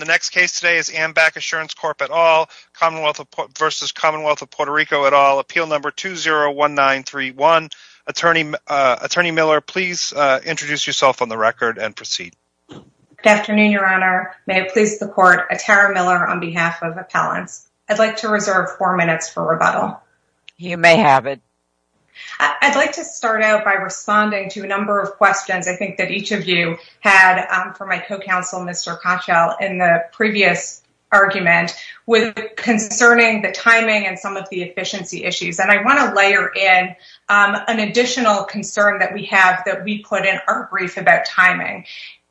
at all. Appeal number 201931. Attorney Miller, please introduce yourself on the record and proceed. Good afternoon, Your Honor. May it please the Court, Tara Miller on behalf of Appellants. I'd like to reserve four minutes for rebuttal. You may have it. I'd like to start out by responding to a number of questions I think that each of you had for my co-counsel, Mr. Kochel, in the previous argument concerning the timing and some of the efficiency issues. And I want to layer in an additional concern that we have that we put in our brief about timing.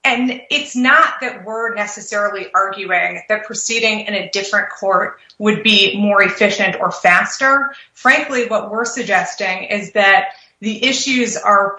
And it's not that we're necessarily arguing that proceeding in a different court would be more efficient or faster. Frankly, what we're suggesting is that the issues are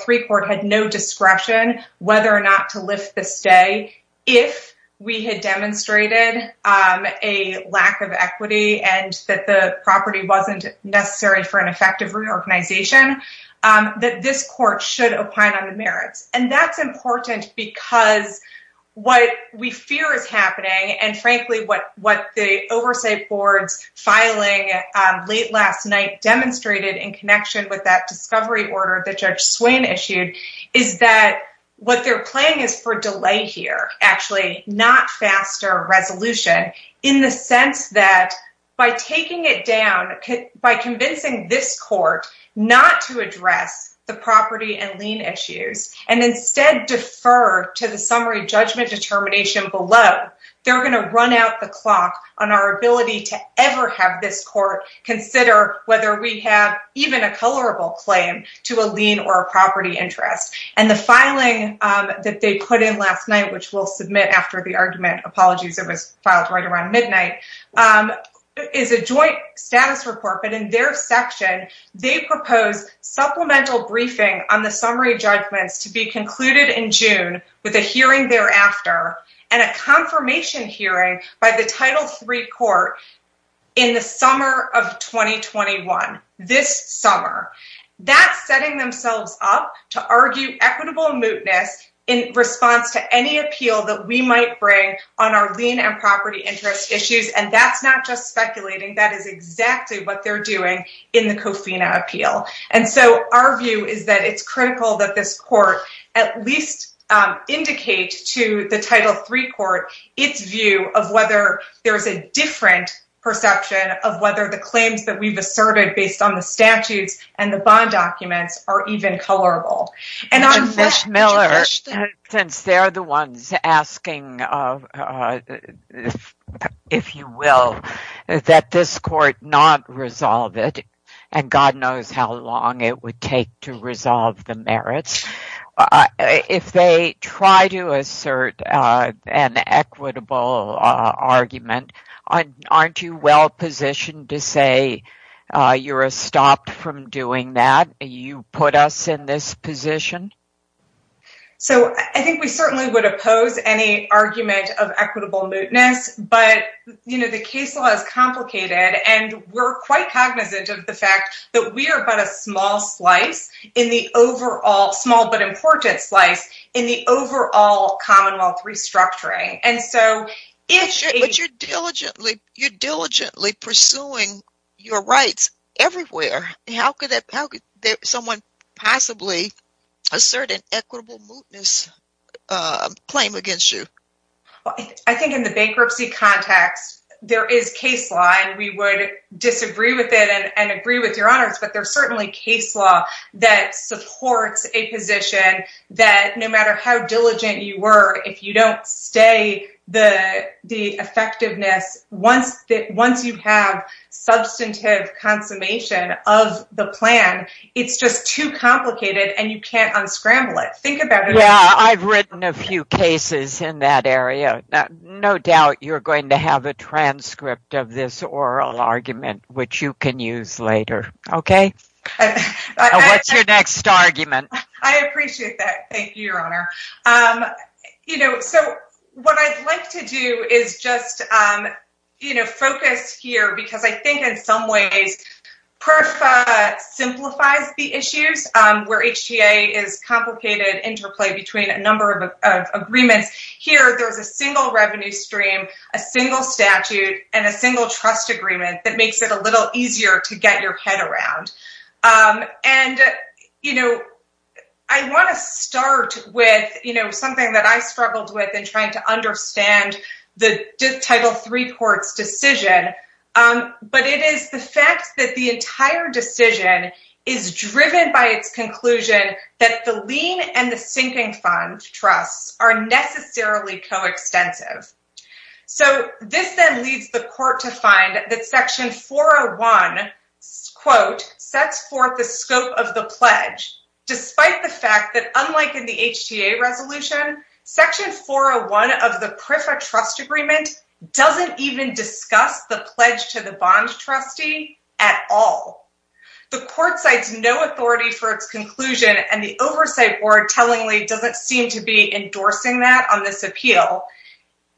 three court had no discretion whether or not to lift the stay. If we had demonstrated a lack of equity and that the property wasn't necessary for an effective reorganization, that this court should opine on the merits. And that's important because what we fear is happening and frankly, what the oversight boards filing late last night demonstrated in connection with that discovery order that Judge Swain issued is that what they're playing is for delay here, actually not faster resolution in the sense that by taking it down, by convincing this court not to address the property and lien issues and instead defer to the summary judgment determination below, they're going to run out the clock on our ability to ever have this court consider whether we have even a colorable claim to a lien or a property interest. And the filing that they put in last night, which we'll submit after the argument, apologies, it was filed right around midnight, is a joint status report. But in their section, they propose supplemental briefing on the summary judgments to be in the summer of 2021, this summer. That's setting themselves up to argue equitable mootness in response to any appeal that we might bring on our lien and property interest issues. And that's not just speculating. That is exactly what they're doing in the Cofina appeal. And so our view is that it's critical that this court at least indicate to the Title 3 court its view of whether there's a different perception of whether the claims that we've asserted based on the statutes and the bond documents are even colorable. And on that, Miller, since they're the ones asking, if you will, that this court not resolve it, and God knows how long it would take to resolve the merits. If they try to assert an equitable argument, aren't you well positioned to say you're stopped from doing that? You put us in this position? So I think we certainly would oppose any argument of equitable mootness. But, you know, the case law is complicated, and we're quite cognizant of the fact that we are but a small slice in the overall Commonwealth restructuring. But you're diligently pursuing your rights everywhere. How could someone possibly assert an equitable mootness claim against you? I think in the bankruptcy context, there is case law, and we would disagree with it and agree with your honors, but there's certainly case law that supports a position that no matter how diligent you were, if you don't stay the effectiveness, once you have substantive consummation of the plan, it's just too complicated, and you can't unscramble it. Think about it. Yeah, I've written a few cases in that area. No doubt you're going to have a transcript of this oral argument, which you can use later. Okay. What's your next argument? I appreciate that. Thank you, Your Honor. You know, so what I'd like to do is just, you know, focus here because I think in some ways, PERFA simplifies the issues where HTA is complicated interplay between a number of agreements. Here, there's a single revenue stream, a single statute, and a single trust agreement that makes it a little easier to get your head around. And, you know, I want to start with, you know, something that I struggled with in trying to understand the Title III court's decision, but it is the fact that the entire decision is driven by its conclusion that the lien and the sinking fund trusts are necessarily coextensive. So this then leads the court to find that Section 401, quote, sets forth the scope of the pledge, despite the fact that unlike in the HTA resolution, Section 401 of the PERFA trust agreement doesn't even discuss the pledge to the bond trustee at all. The court cites no authority for its conclusion, and the oversight board tellingly doesn't seem to be endorsing that on this appeal.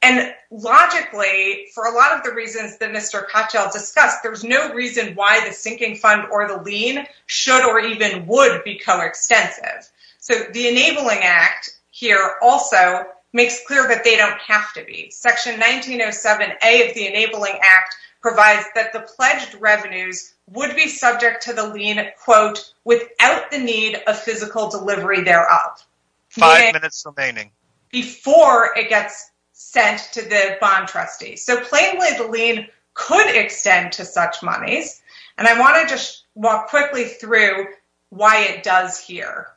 And logically, for a lot of the reasons that Mr. Cottrell discussed, there's no reason why the sinking fund or the lien should or even would become extensive. So the Enabling Act here also makes clear that they don't have to be. Section 1907A of the Enabling Act provides that the pledged revenues would be subject to the lien, quote, without the need of physical delivery thereof. Five minutes remaining. Before it gets sent to the bond trustee. So plainly the lien could extend to such monies, and I want to just walk quickly through why it does here.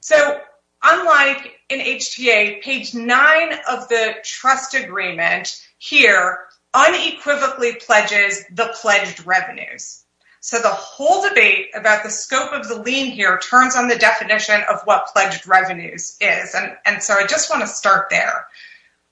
So unlike in HTA, page nine of the trust agreement here unequivocally pledges the pledged revenues. So the whole debate about the scope of the lien here turns on the definition of what pledged revenues is. And so I just want to start there.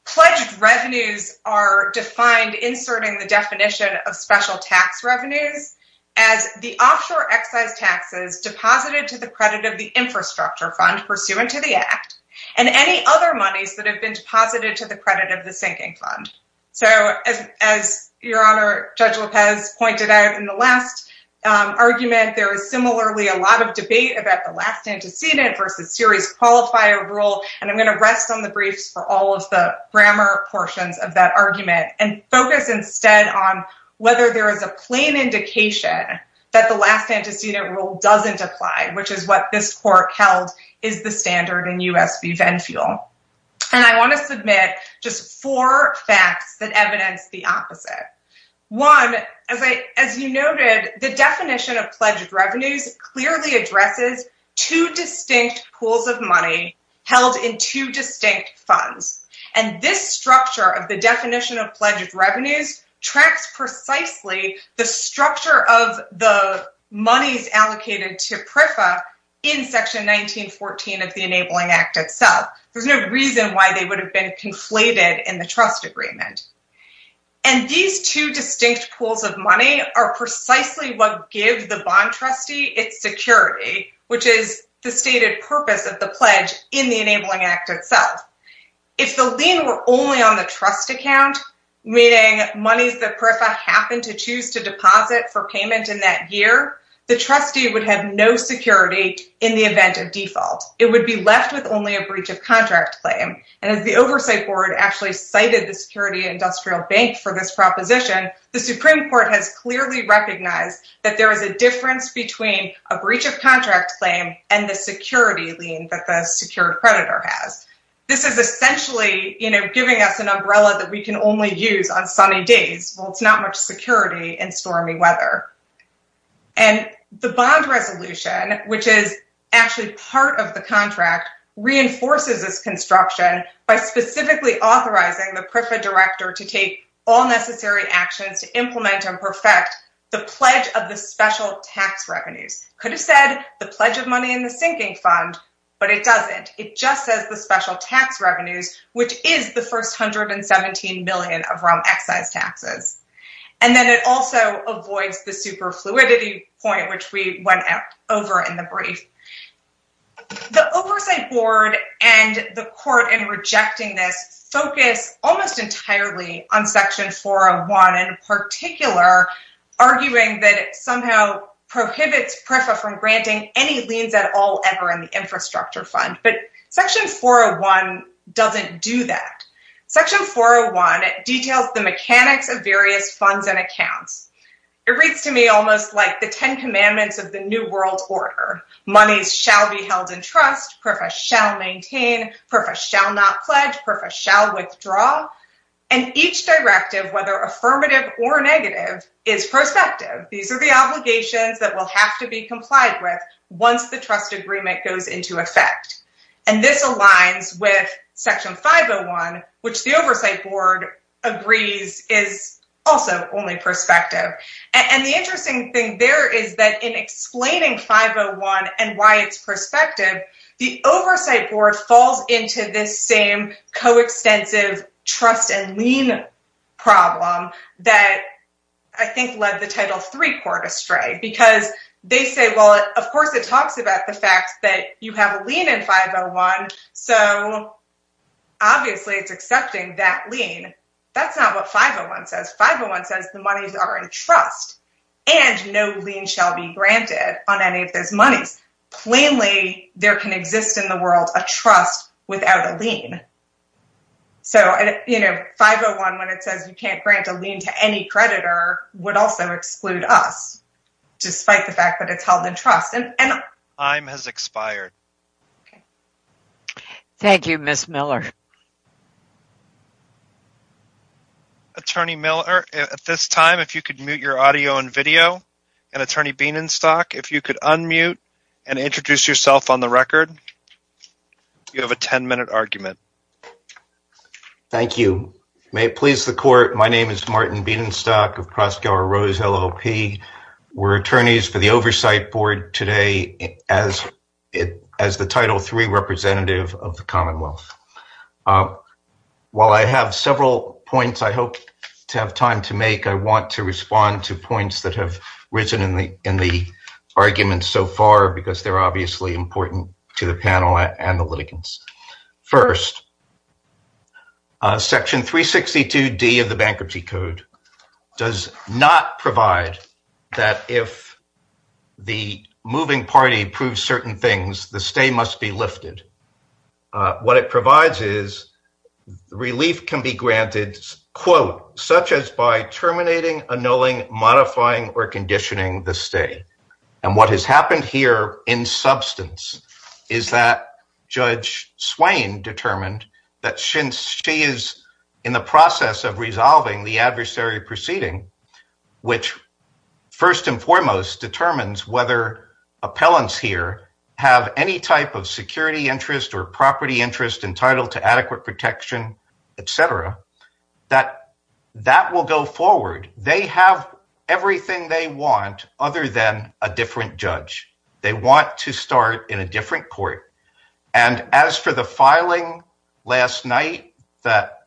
Pledged revenues are defined inserting the definition of special tax revenues as the offshore excise taxes deposited to the credit of the infrastructure fund pursuant to the act and any other monies that have been deposited to the credit of the sinking fund. So as your honor, Judge Lopez pointed out in the last argument, there is similarly a lot of debate about the last antecedent versus series qualifier rule. And I'm going to rest on the briefs for all of the grammar portions of that argument and focus instead on whether there is a plain indication that the last antecedent rule doesn't apply, which is what this court held is the standard in U.S. v. Venfuel. And I want to submit just four facts that evidence the opposite. One, as you noted, the definition of pledged revenues clearly addresses two distinct pools of money held in two distinct funds. And this structure of the definition of pledged revenues tracks precisely the structure of the monies allocated to PREFA in Section 1914 of the Enabling Act itself. There's no reason why they would have been conflated in the trust agreement. And these two distinct pools of money are precisely what gives the bond trustee its security, which is the stated purpose of the pledge in the Enabling Act itself. If the lien were only on the trust account, meaning monies that PREFA happened to choose to deposit for payment in that year, the trustee would have no security in the event of default. It would be left with only a breach of contract claim. And as the Oversight Board actually cited the Security Industrial Bank for this proposition, the Supreme Court has clearly recognized that there is a difference between a breach of contract claim and the security lien that the secured creditor has. This is essentially giving us an umbrella that we can only use on sunny days. Well, it's not much security in stormy weather. And the bond resolution, which is actually part of the contract, reinforces this construction by specifically authorizing the PREFA director to take all necessary actions to implement and perfect the pledge of the special tax revenues. Could have said the pledge of money in the sinking fund, but it doesn't. It just says the special tax revenues, which is the first hundred and seventeen million of excise taxes. And then it also avoids the super fluidity point, which we went over in the brief. The Oversight Board and the court in rejecting this focus almost entirely on Section 401 in particular, arguing that it somehow prohibits PREFA from granting any liens at all ever in the infrastructure fund. But Section 401 doesn't do that. Section 401 details the mechanics of various funds and accounts. It reads to me almost like the Ten Commandments of the New World Order. Monies shall be held in trust. PREFA shall maintain. PREFA shall not pledge. PREFA shall withdraw. And each directive, whether affirmative or negative, is prospective. These are the obligations that will have to be complied with once the trust agreement goes into effect. And this aligns with Section 501, which the Oversight Board agrees is also only prospective. And the interesting thing there is that in explaining 501 and why it's prospective, the Oversight Board falls into this same coextensive trust and lien problem that I think led the Title III court astray. Because they say, well, of course, it talks about the fact that you have a lien in 501. So obviously it's accepting that lien. That's not what 501 says. 501 says the monies are in trust and no lien shall be granted on any of those monies. Plainly, there can exist in the world a trust without a lien. So, you know, 501, when it says you can't grant a lien to any creditor, would also exclude us, despite the fact that it's held in trust. Time has expired. Thank you, Ms. Miller. Attorney Miller, at this time, if you could mute your audio and video. And Attorney Bienenstock, if you could unmute and introduce yourself on the record. You have a 10 minute argument. Thank you. May it please the court. My name is Martin Bienenstock of Crossgower Rose, LLP. We're attorneys for the Oversight Board today as it as the Title III representative of the Commonwealth. While I have several points, I hope to have time to make. I want to respond to points that have risen in the in the arguments so far because they're obviously important to the panel and the litigants. First. Section 362 D of the Bankruptcy Code does not provide that if the moving party proves certain things, the stay must be lifted. What it provides is relief can be granted, quote, such as by terminating, annulling, modifying or conditioning the stay. And what has happened here in substance is that Judge Swain determined that since she is in the process of resolving the adversary proceeding, which first and foremost determines whether appellants here have any type of security interest or property interest entitled to adequate protection, et cetera, that that will go forward. They have everything they want other than a different judge. They want to start in a different court. And as for the filing last night that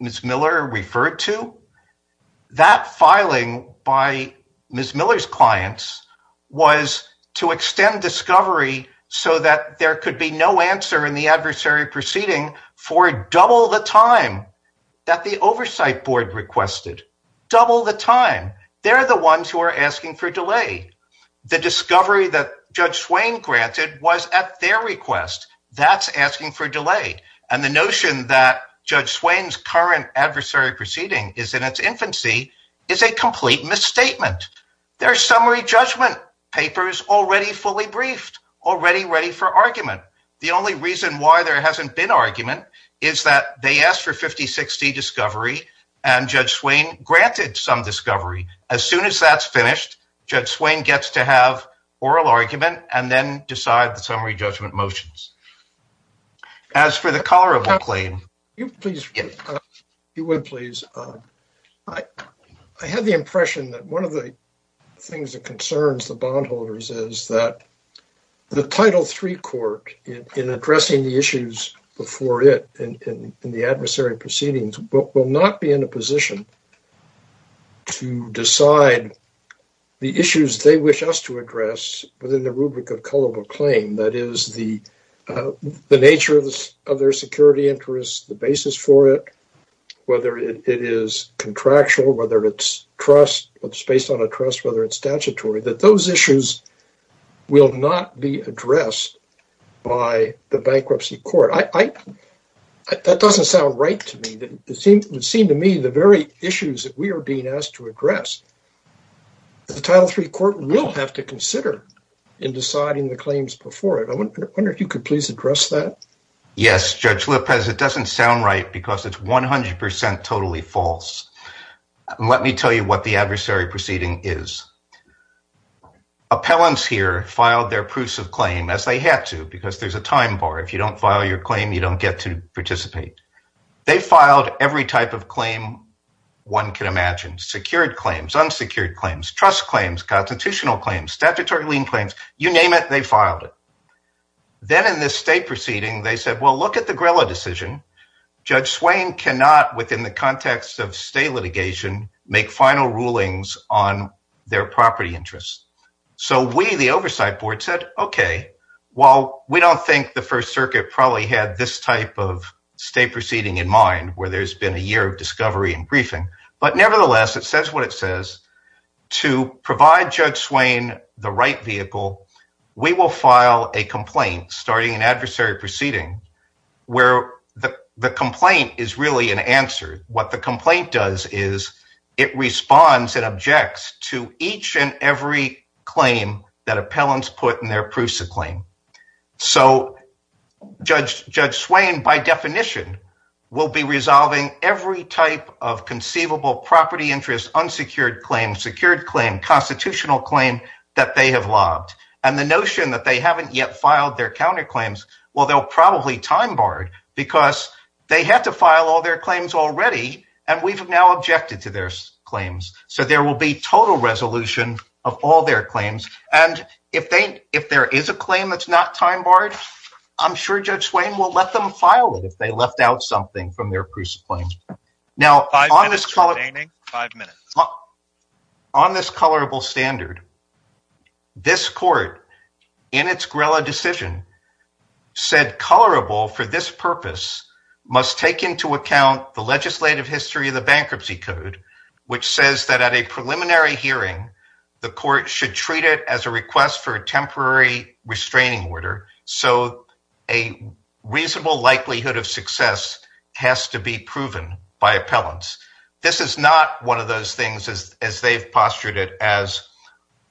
Ms. Miller referred to, that filing by Ms. Miller's clients was to extend discovery so that there could be no answer in the adversary proceeding for double the time that the Oversight Board requested, double the time. They're the ones who are asking for delay. The discovery that Judge Swain granted was at their request. That's asking for delay. And the notion that Judge Swain's current adversary proceeding is in its infancy is a complete misstatement. As for the summary judgment, there are summary judgment papers already fully briefed, already ready for argument. The only reason why there hasn't been argument is that they asked for 50-60 discovery and Judge Swain granted some discovery. As soon as that's finished, Judge Swain gets to have oral argument and then decide the summary judgment motions. As for the colorable claim. The nature of their security interests, the basis for it, whether it is contractual, whether it's trust, whether it's based on a trust, whether it's statutory, that those issues will not be addressed by the bankruptcy court. That doesn't sound right to me. It seems to me the very issues that we are being asked to address, the Title III court will have to consider in deciding the claims before it. I wonder if you could please address that. Yes, Judge Lopez, it doesn't sound right because it's 100% totally false. Let me tell you what the adversary proceeding is. Appellants here filed their proofs of claim as they had to because there's a time bar. If you don't file your claim, you don't get to participate. They filed every type of claim one can imagine, secured claims, unsecured claims, trust claims, constitutional claims, statutory lien claims, you name it, they filed it. Then in this state proceeding, they said, well, look at the Grilla decision. Judge Swain cannot, within the context of state litigation, make final rulings on their property interests. So we, the oversight board, said, okay, while we don't think the First Circuit probably had this type of state proceeding in mind where there's been a year of discovery and briefing, but nevertheless, it says what it says. To provide Judge Swain the right vehicle, we will file a complaint starting an adversary proceeding where the complaint is really an answer. What the complaint does is it responds and objects to each and every claim that appellants put in their proofs of claim. So Judge Swain, by definition, will be resolving every type of conceivable property interest, unsecured claims, secured claim, constitutional claim that they have lobbed. And the notion that they haven't yet filed their counterclaims, well, they'll probably time barred because they have to file all their claims already, and we've now objected to their claims. So there will be total resolution of all their claims. And if there is a claim that's not time barred, I'm sure Judge Swain will let them file it if they left out something from their proofs of claim. Five minutes remaining. Five minutes. This is not one of those things as they've postured it as,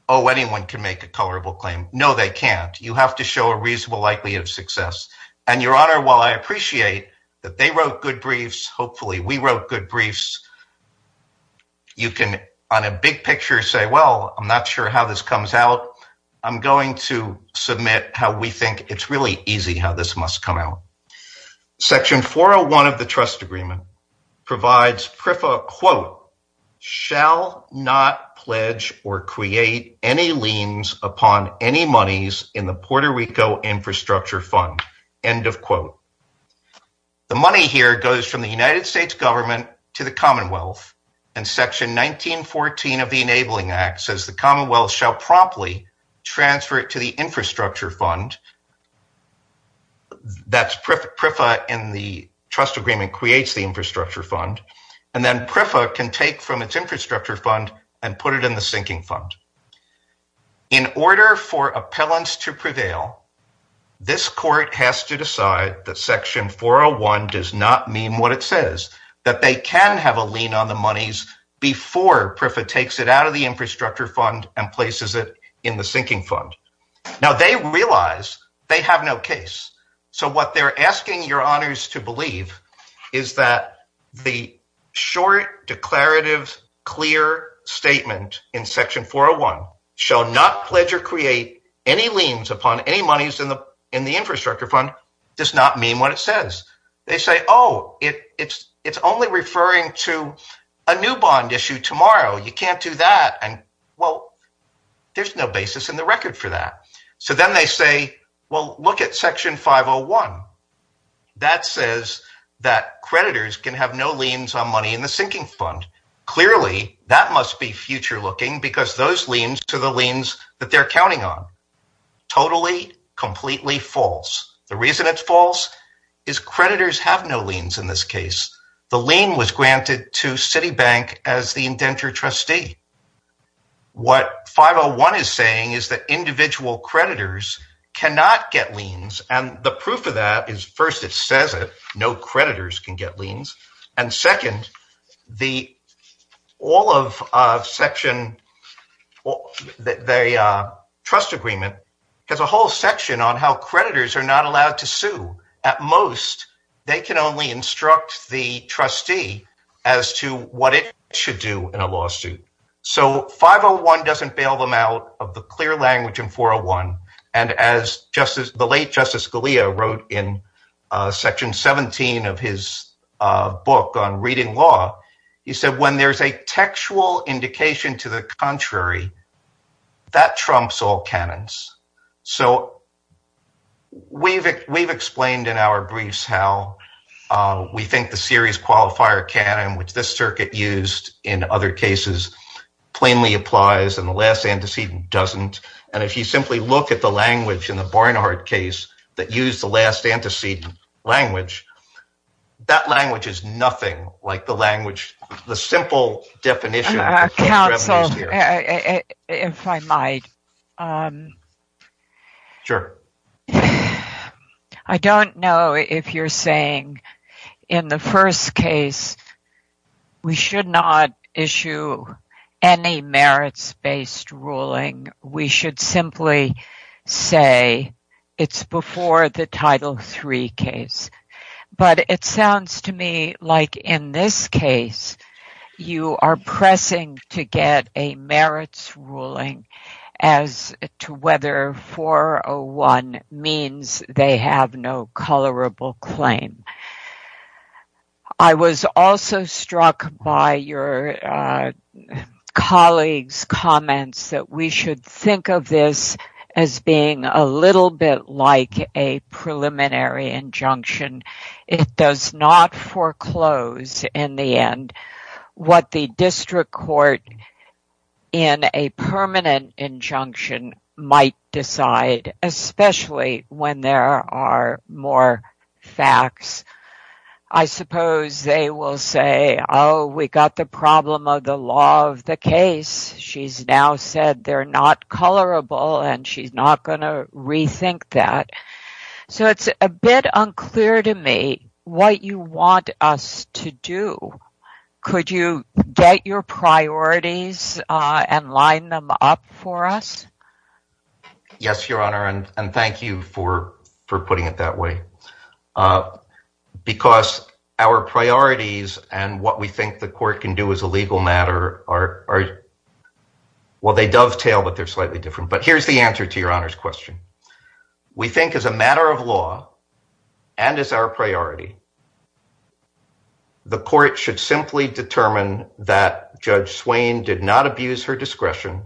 oh, anyone can make a colorable claim. No, they can't. You have to show a reasonable likelihood of success. And Your Honor, while I appreciate that they wrote good briefs, hopefully we wrote good briefs. You can on a big picture say, well, I'm not sure how this comes out. I'm going to submit how we think it's really easy how this must come out. Section 401 of the trust agreement provides, quote, shall not pledge or create any liens upon any monies in the Puerto Rico infrastructure fund. End of quote. The money here goes from the United States government to the Commonwealth and Section 1914 of the Enabling Act says the Commonwealth shall promptly transfer it to the infrastructure fund. In order for appellants to prevail, this court has to decide that Section 401 does not mean what it says, that they can have a lien on the monies before PRIFA takes it out of the infrastructure fund and places it in the sinking fund. Now, they realize they have no case. So what they're asking Your Honors to believe is that the short, declarative, clear statement in Section 401 shall not pledge or create any liens upon any monies in the infrastructure fund does not mean what it says. They say, oh, it's only referring to a new bond issue tomorrow. You can't do that. And, well, there's no basis in the record for that. So then they say, well, look at Section 501. That says that creditors can have no liens on money in the sinking fund. Clearly, that must be future looking because those liens to the liens that they're counting on. Totally, completely false. The reason it's false is creditors have no liens in this case. The lien was granted to Citibank as the indenture trustee. What 501 is saying is that individual creditors cannot get liens. And the proof of that is, first, it says no creditors can get liens. And second, the all of Section, the trust agreement has a whole section on how creditors are not allowed to sue. At most, they can only instruct the trustee as to what it should do in a lawsuit. So 501 doesn't bail them out of the clear language in 401. And as the late Justice Scalia wrote in Section 17 of his book on reading law, he said, when there's a textual indication to the contrary, that trumps all canons. So we've explained in our briefs how we think the series qualifier canon, which this circuit used in other cases, plainly applies and the last antecedent doesn't. And if you simply look at the language in the Barnard case that used the last antecedent language, that language is nothing like the language, the simple definition. I don't know if you're saying in the first case we should not issue any merits-based ruling. We should simply say it's before the Title III case. But it sounds to me like in this case, you are pressing to get a merits ruling as to whether 401 means they have no colorable claim. I was also struck by your colleagues' comments that we should think of this as being a little bit like a preliminary injunction. It does not foreclose in the end what the district court in a permanent injunction might decide, especially when there are more facts. I suppose they will say, oh, we got the problem of the law of the case. She's now said they're not colorable and she's not going to rethink that. So it's a bit unclear to me what you want us to do. Could you get your priorities and line them up for us? Yes, Your Honor, and thank you for putting it that way, because our priorities and what we think the court can do as a legal matter are, well, they dovetail, but they're slightly different. But here's the answer to Your Honor's question. We think as a matter of law and as our priority, the court should simply determine that Judge Swain did not abuse her discretion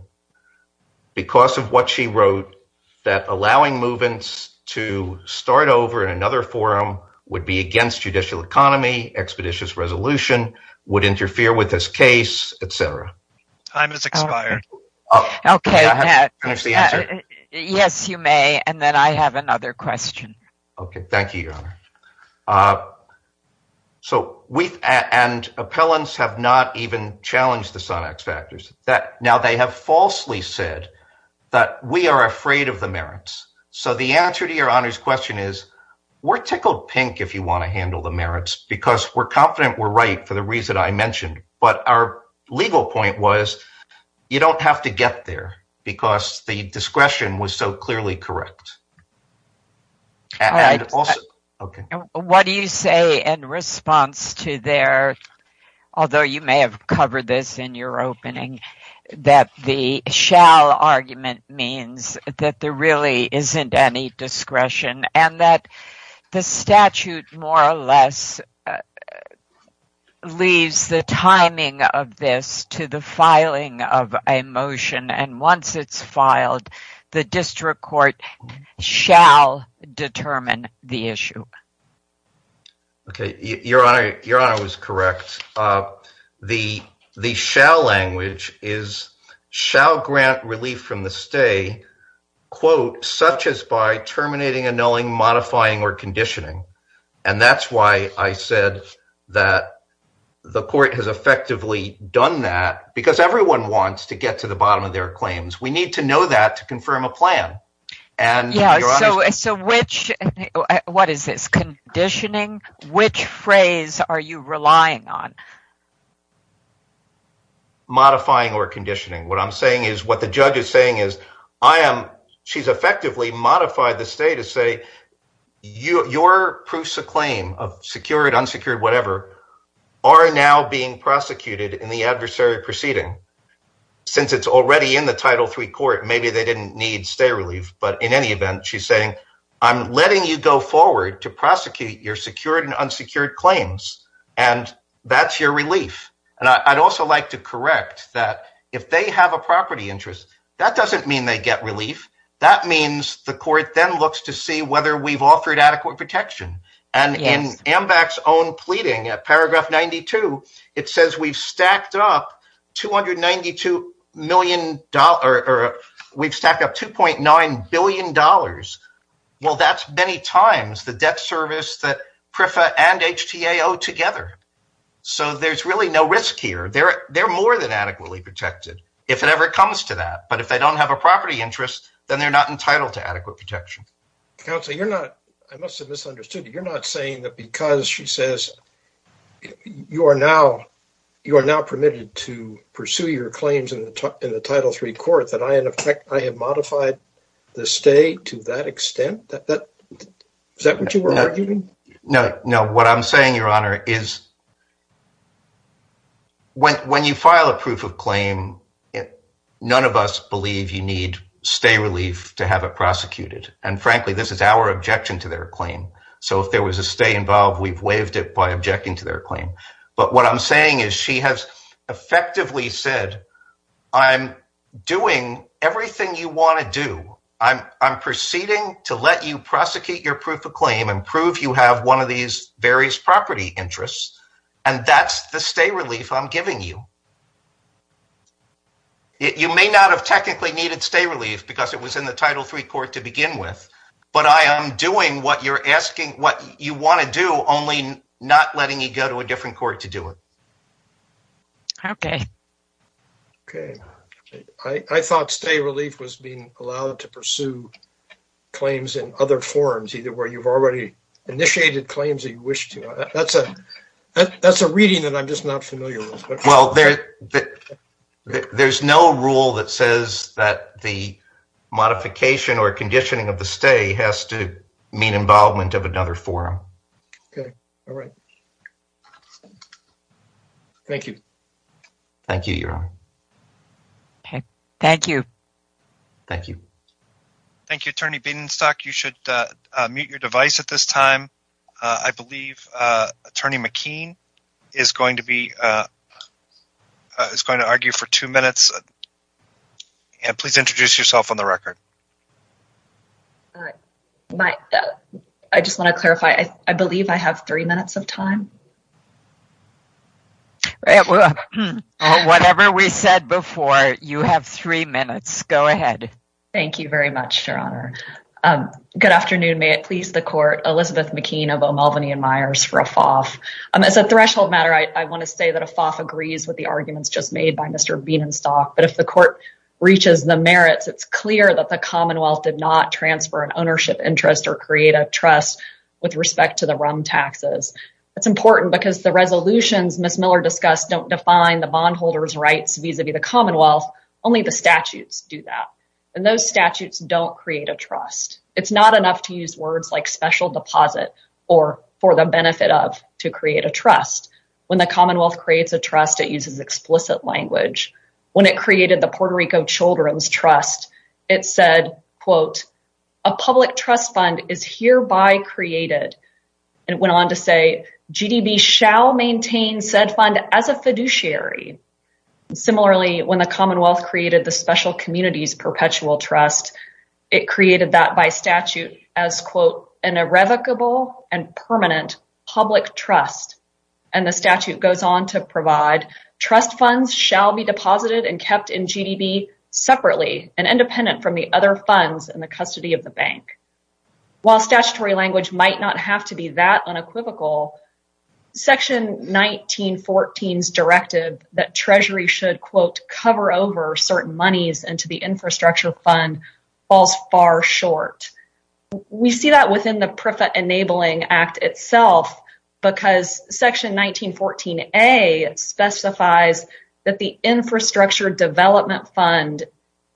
because of what she wrote that allowing movements to start over in another forum would be against judicial economy, expeditious resolution, would interfere with this case, etc. Time has expired. Oh, OK. Yes, you may. And then I have another question. OK, thank you, Your Honor. So we and appellants have not even challenged the Sonax factors that now they have falsely said that we are afraid of the merits. So the answer to Your Honor's question is we're tickled pink if you want to handle the merits because we're confident we're right for the reason I mentioned. But our legal point was you don't have to get there because the discretion was so clearly correct. What do you say in response to their, although you may have covered this in your opening, that the shall argument means that there really isn't any discretion and that the statute more or less leaves the timing of this to the filing of a motion. And once it's filed, the district court shall determine the issue. OK, Your Honor, Your Honor was correct. The the shall language is shall grant relief from the stay, quote, such as by terminating, annulling, modifying or conditioning. And that's why I said that the court has effectively done that because everyone wants to get to the bottom of their claims. We need to know that to confirm a plan. So which what is this conditioning? Which phrase are you relying on? Modifying or conditioning, what I'm saying is what the judge is saying is I am. She's effectively modified the state to say your proofs of claim of secured, unsecured, whatever, are now being prosecuted in the adversary proceeding. Since it's already in the title three court, maybe they didn't need stay relief, but in any event, she's saying I'm letting you go forward to prosecute your secured and unsecured claims and that's your relief. And I'd also like to correct that if they have a property interest, that doesn't mean they get relief. That means the court then looks to see whether we've offered adequate protection. And in AMVAC's own pleading at paragraph 92, it says we've stacked up $292 million or we've stacked up $2.9 billion. Well, that's many times the debt service that PREFA and HTAO together. So there's really no risk here. They're more than adequately protected if it ever comes to that. But if they don't have a property interest, then they're not entitled to adequate protection. Counsel, you're not, I must have misunderstood. You're not saying that because she says you are now permitted to pursue your claims in the title three court that I, in effect, I have modified the state to that extent? Is that what you were arguing? No, no. What I'm saying, Your Honor, is when you file a proof of claim, none of us believe you need stay relief to have it prosecuted. And frankly, this is our objection to their claim. So if there was a stay involved, we've waived it by objecting to their claim. But what I'm saying is she has effectively said, I'm doing everything you want to do. I'm proceeding to let you prosecute your proof of claim and prove you have one of these various property interests. And that's the stay relief I'm giving you. You may not have technically needed stay relief because it was in the title three court to begin with. But I am doing what you're asking, what you want to do, only not letting you go to a different court to do it. Okay. Okay. I thought stay relief was being allowed to pursue claims in other forums, either where you've already initiated claims that you wish to. That's a reading that I'm just not familiar with. Well, there's no rule that says that the modification or conditioning of the stay has to mean involvement of another forum. Okay. All right. Thank you. Thank you. Thank you. Thank you. Thank you. Thank you, Attorney Beidenstock. You should mute your device at this time. I believe Attorney McKean is going to be, is going to argue for two minutes. And please introduce yourself on the record. I just want to clarify, I believe I have three minutes of time. Whatever we said before, you have three minutes. Go ahead. Thank you very much, Your Honor. Good afternoon. May it please the court, Elizabeth McKean of O'Melveny and Myers for a FOF. As a threshold matter, I want to say that a FOF agrees with the arguments just made by Mr. Beidenstock. But if the court reaches the merits, it's clear that the Commonwealth did not transfer an ownership interest or create a trust with respect to the RUM taxes. That's important because the resolutions Ms. Miller discussed don't define the bondholder's rights vis-a-vis the Commonwealth. Only the statutes do that. And those statutes don't create a trust. It's not enough to use words like special deposit or for the benefit of to create a trust. When the Commonwealth creates a trust, it uses explicit language. When it created the Puerto Rico Children's Trust, it said, quote, a public trust fund is hereby created. And it went on to say, GDB shall maintain said fund as a fiduciary. Similarly, when the Commonwealth created the Special Communities Perpetual Trust, it created that by statute as, quote, an irrevocable and permanent public trust. And the statute goes on to provide trust funds shall be deposited and kept in GDB separately and independent from the other funds in the custody of the bank. While statutory language might not have to be that unequivocal, Section 1914's directive that Treasury should, quote, cover over certain monies into the infrastructure fund falls far short. We see that within the PREFA Enabling Act itself because Section 1914A specifies that the infrastructure development fund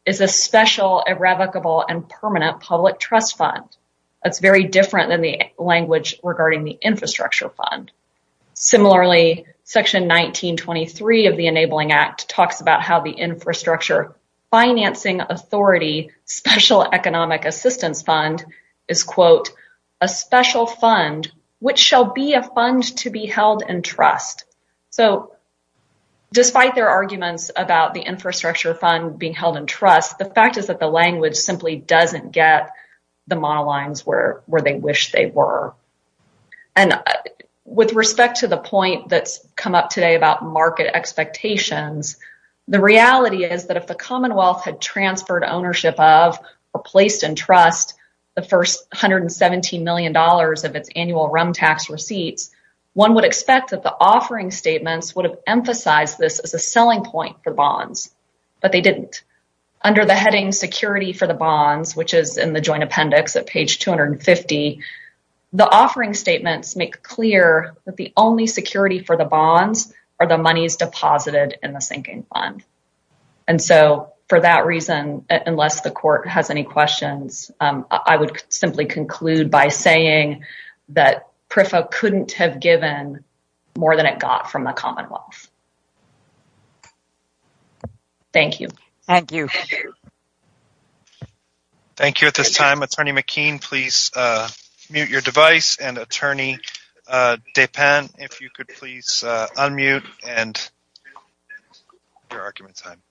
is a special, irrevocable and permanent public trust fund. That's very different than the language regarding the infrastructure fund. Similarly, Section 1923 of the Enabling Act talks about how the infrastructure financing authority special economic assistance fund is, quote, a special fund which shall be a fund to be held in trust. So despite their arguments about the infrastructure fund being held in trust, the fact is that the language simply doesn't get the model lines where they wish they were. And with respect to the point that's come up today about market expectations, the reality is that if the Commonwealth had transferred ownership of or placed in trust the first $117 million of its annual RUM tax receipts, one would expect that the offering statements would have emphasized this as a selling point for bonds, but they didn't. Under the heading security for the bonds, which is in the joint appendix at page 250, the offering statements make clear that the only security for the bonds are the monies deposited in the sinking fund. And so for that reason, unless the court has any questions, I would simply conclude by saying that PREFA couldn't have given more than it got from the Commonwealth. Thank you. Thank you. Thank you at this time. Attorney McKean, please mute your device. And Attorney Depin, if you could please unmute and your argument time.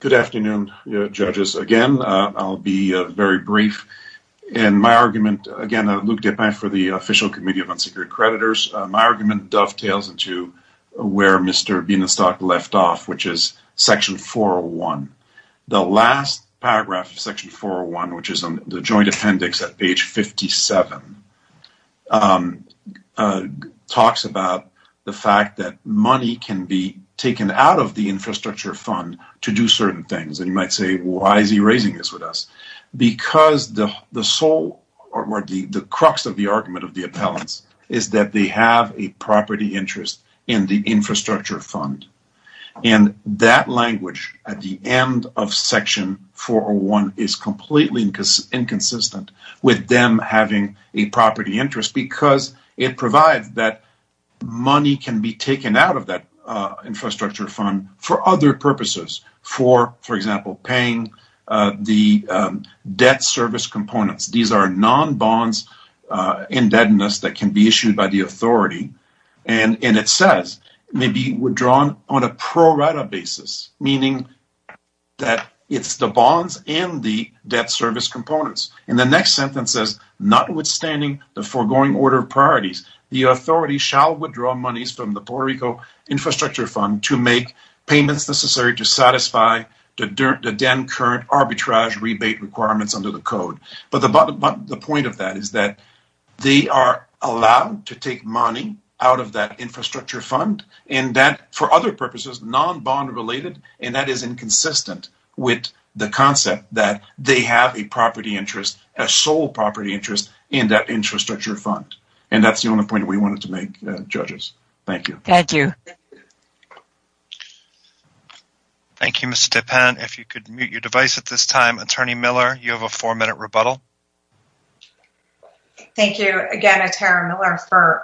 Good afternoon, judges. Again, I'll be very brief. In my argument, again, I'm Luke Depin for the Official Committee of Unsecured Creditors. My argument dovetails into where Mr. Bienenstock left off, which is Section 401. The last paragraph of Section 401, which is in the joint appendix at page 57, talks about the fact that money can be taken out of the infrastructure fund to do certain things. And you might say, why is he raising this with us? Because the sole or the crux of the argument of the appellants is that they have a property interest in the infrastructure fund. And that language at the end of Section 401 is completely inconsistent with them having a property interest because it provides that money can be taken out of that infrastructure fund for other purposes. For example, paying the debt service components. These are non-bonds indebtedness that can be issued by the authority. And it says may be withdrawn on a pro rata basis, meaning that it's the bonds and the debt service components. And the next sentence says, notwithstanding the foregoing order of priorities, the authority shall withdraw monies from the Puerto Rico infrastructure fund to make payments necessary to satisfy the current arbitrage rebate requirements under the code. But the point of that is that they are allowed to take money out of that infrastructure fund, and that for other purposes, non-bond related, and that is inconsistent with the concept that they have a property interest, a sole property interest in that infrastructure fund. And that's the only point we wanted to make, judges. Thank you. Thank you. Thank you, Mr. Penn. If you could mute your device at this time, Attorney Miller, you have a four minute rebuttal. Thank you again, Attorney Miller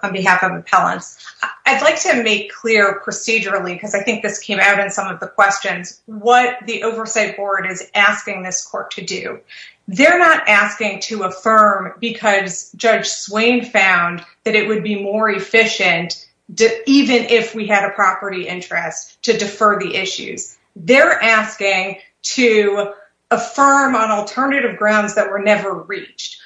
on behalf of appellants. I'd like to make clear procedurally, because I think this came out in some of the questions, what the oversight board is asking this court to do. They're not asking to affirm because Judge Swain found that it would be more efficient, even if we had a property interest, to defer the issues. They're asking to affirm on alternative grounds that were never reached.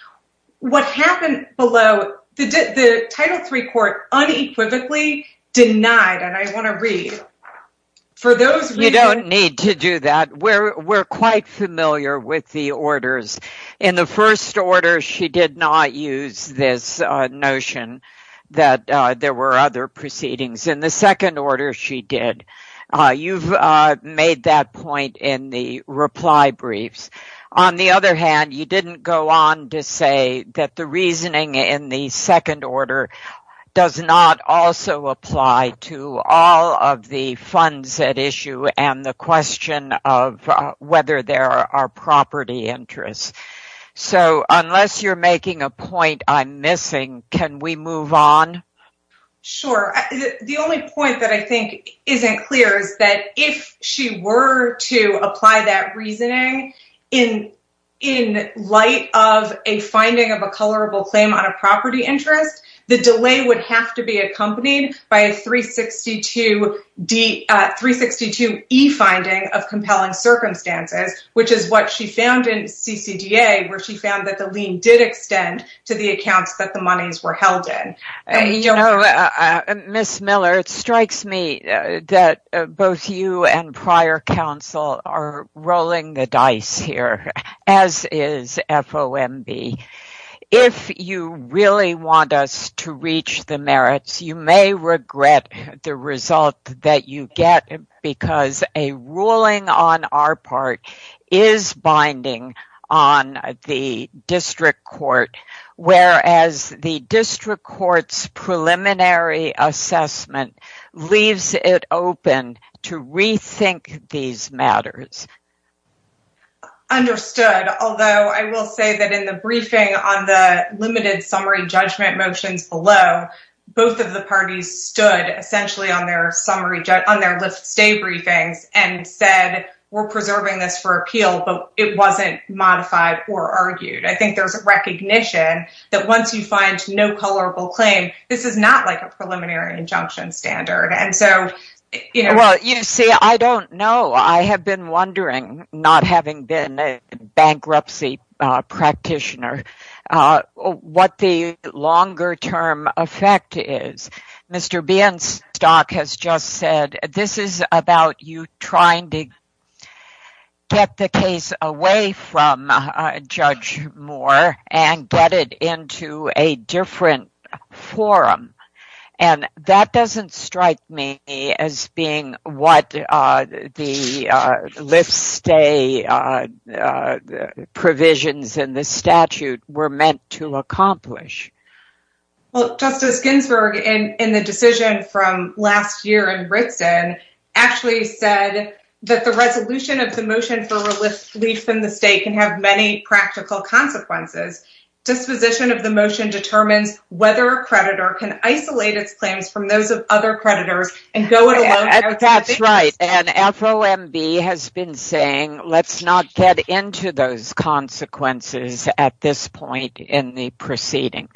What happened below, the Title III court unequivocally denied, and I want to read. You don't need to do that. We're quite familiar with the orders. In the first order, she did not use this notion that there were other proceedings. In the second order, she did. You've made that point in the reply briefs. On the other hand, you didn't go on to say that the reasoning in the second order does not also apply to all of the funds at issue and the question of whether there are property interests. Unless you're making a point I'm missing, can we move on? Sure. The only point that I think isn't clear is that if she were to apply that reasoning in light of a finding of a colorable claim on a property interest, the delay would have to be accompanied by a 362E finding of compelling circumstances, which is what she found in CCDA, where she found that the lien did extend to the accounts that the monies were held in. Ms. Miller, it strikes me that both you and prior counsel are rolling the dice here, as is FOMB. If you really want us to reach the merits, you may regret the result that you get, because a ruling on our part is binding on the district court, whereas the district court's preliminary assessment leaves it open to rethink these matters. Understood. Although I will say that in the briefing on the limited summary judgment motions below, both of the parties stood essentially on their lift stay briefings and said, we're preserving this for appeal, but it wasn't modified or argued. I think there's a recognition that once you find no colorable claim, this is not like a preliminary injunction standard. You see, I don't know. I have been wondering, not having been a bankruptcy practitioner, what the longer term effect is. Mr. Bienstock has just said, this is about you trying to get the case away from Judge Moore and get it into a different forum. That doesn't strike me as being what the lift stay provisions in the statute were meant to accomplish. Well, Justice Ginsburg, in the decision from last year in Brixton, actually said that the resolution of the motion for relief in the state can have many practical consequences. Disposition of the motion determines whether a creditor can isolate its claims from those of other creditors and go it alone. That's right. And FOMB has been saying, let's not get into those consequences at this point in the proceeding.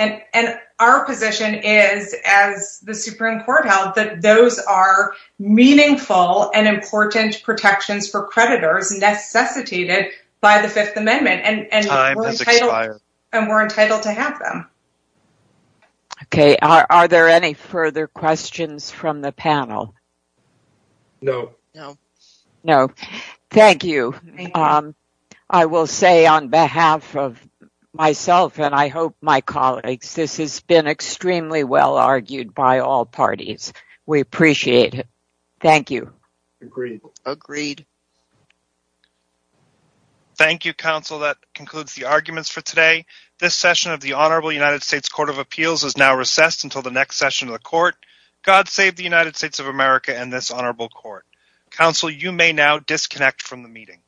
And our position is, as the Supreme Court held, that those are meaningful and important protections for creditors necessitated by the Fifth Amendment. Time has expired. And we're entitled to have them. Okay. Are there any further questions from the panel? No. No. Thank you. I will say on behalf of myself and I hope my colleagues, this has been extremely well argued by all parties. We appreciate it. Thank you. Agreed. Agreed. Thank you, Counsel. That concludes the arguments for today. This session of the Honorable United States Court of Appeals is now recessed until the next session of the court. God save the United States of America and this honorable court. Counsel, you may now disconnect from the meeting.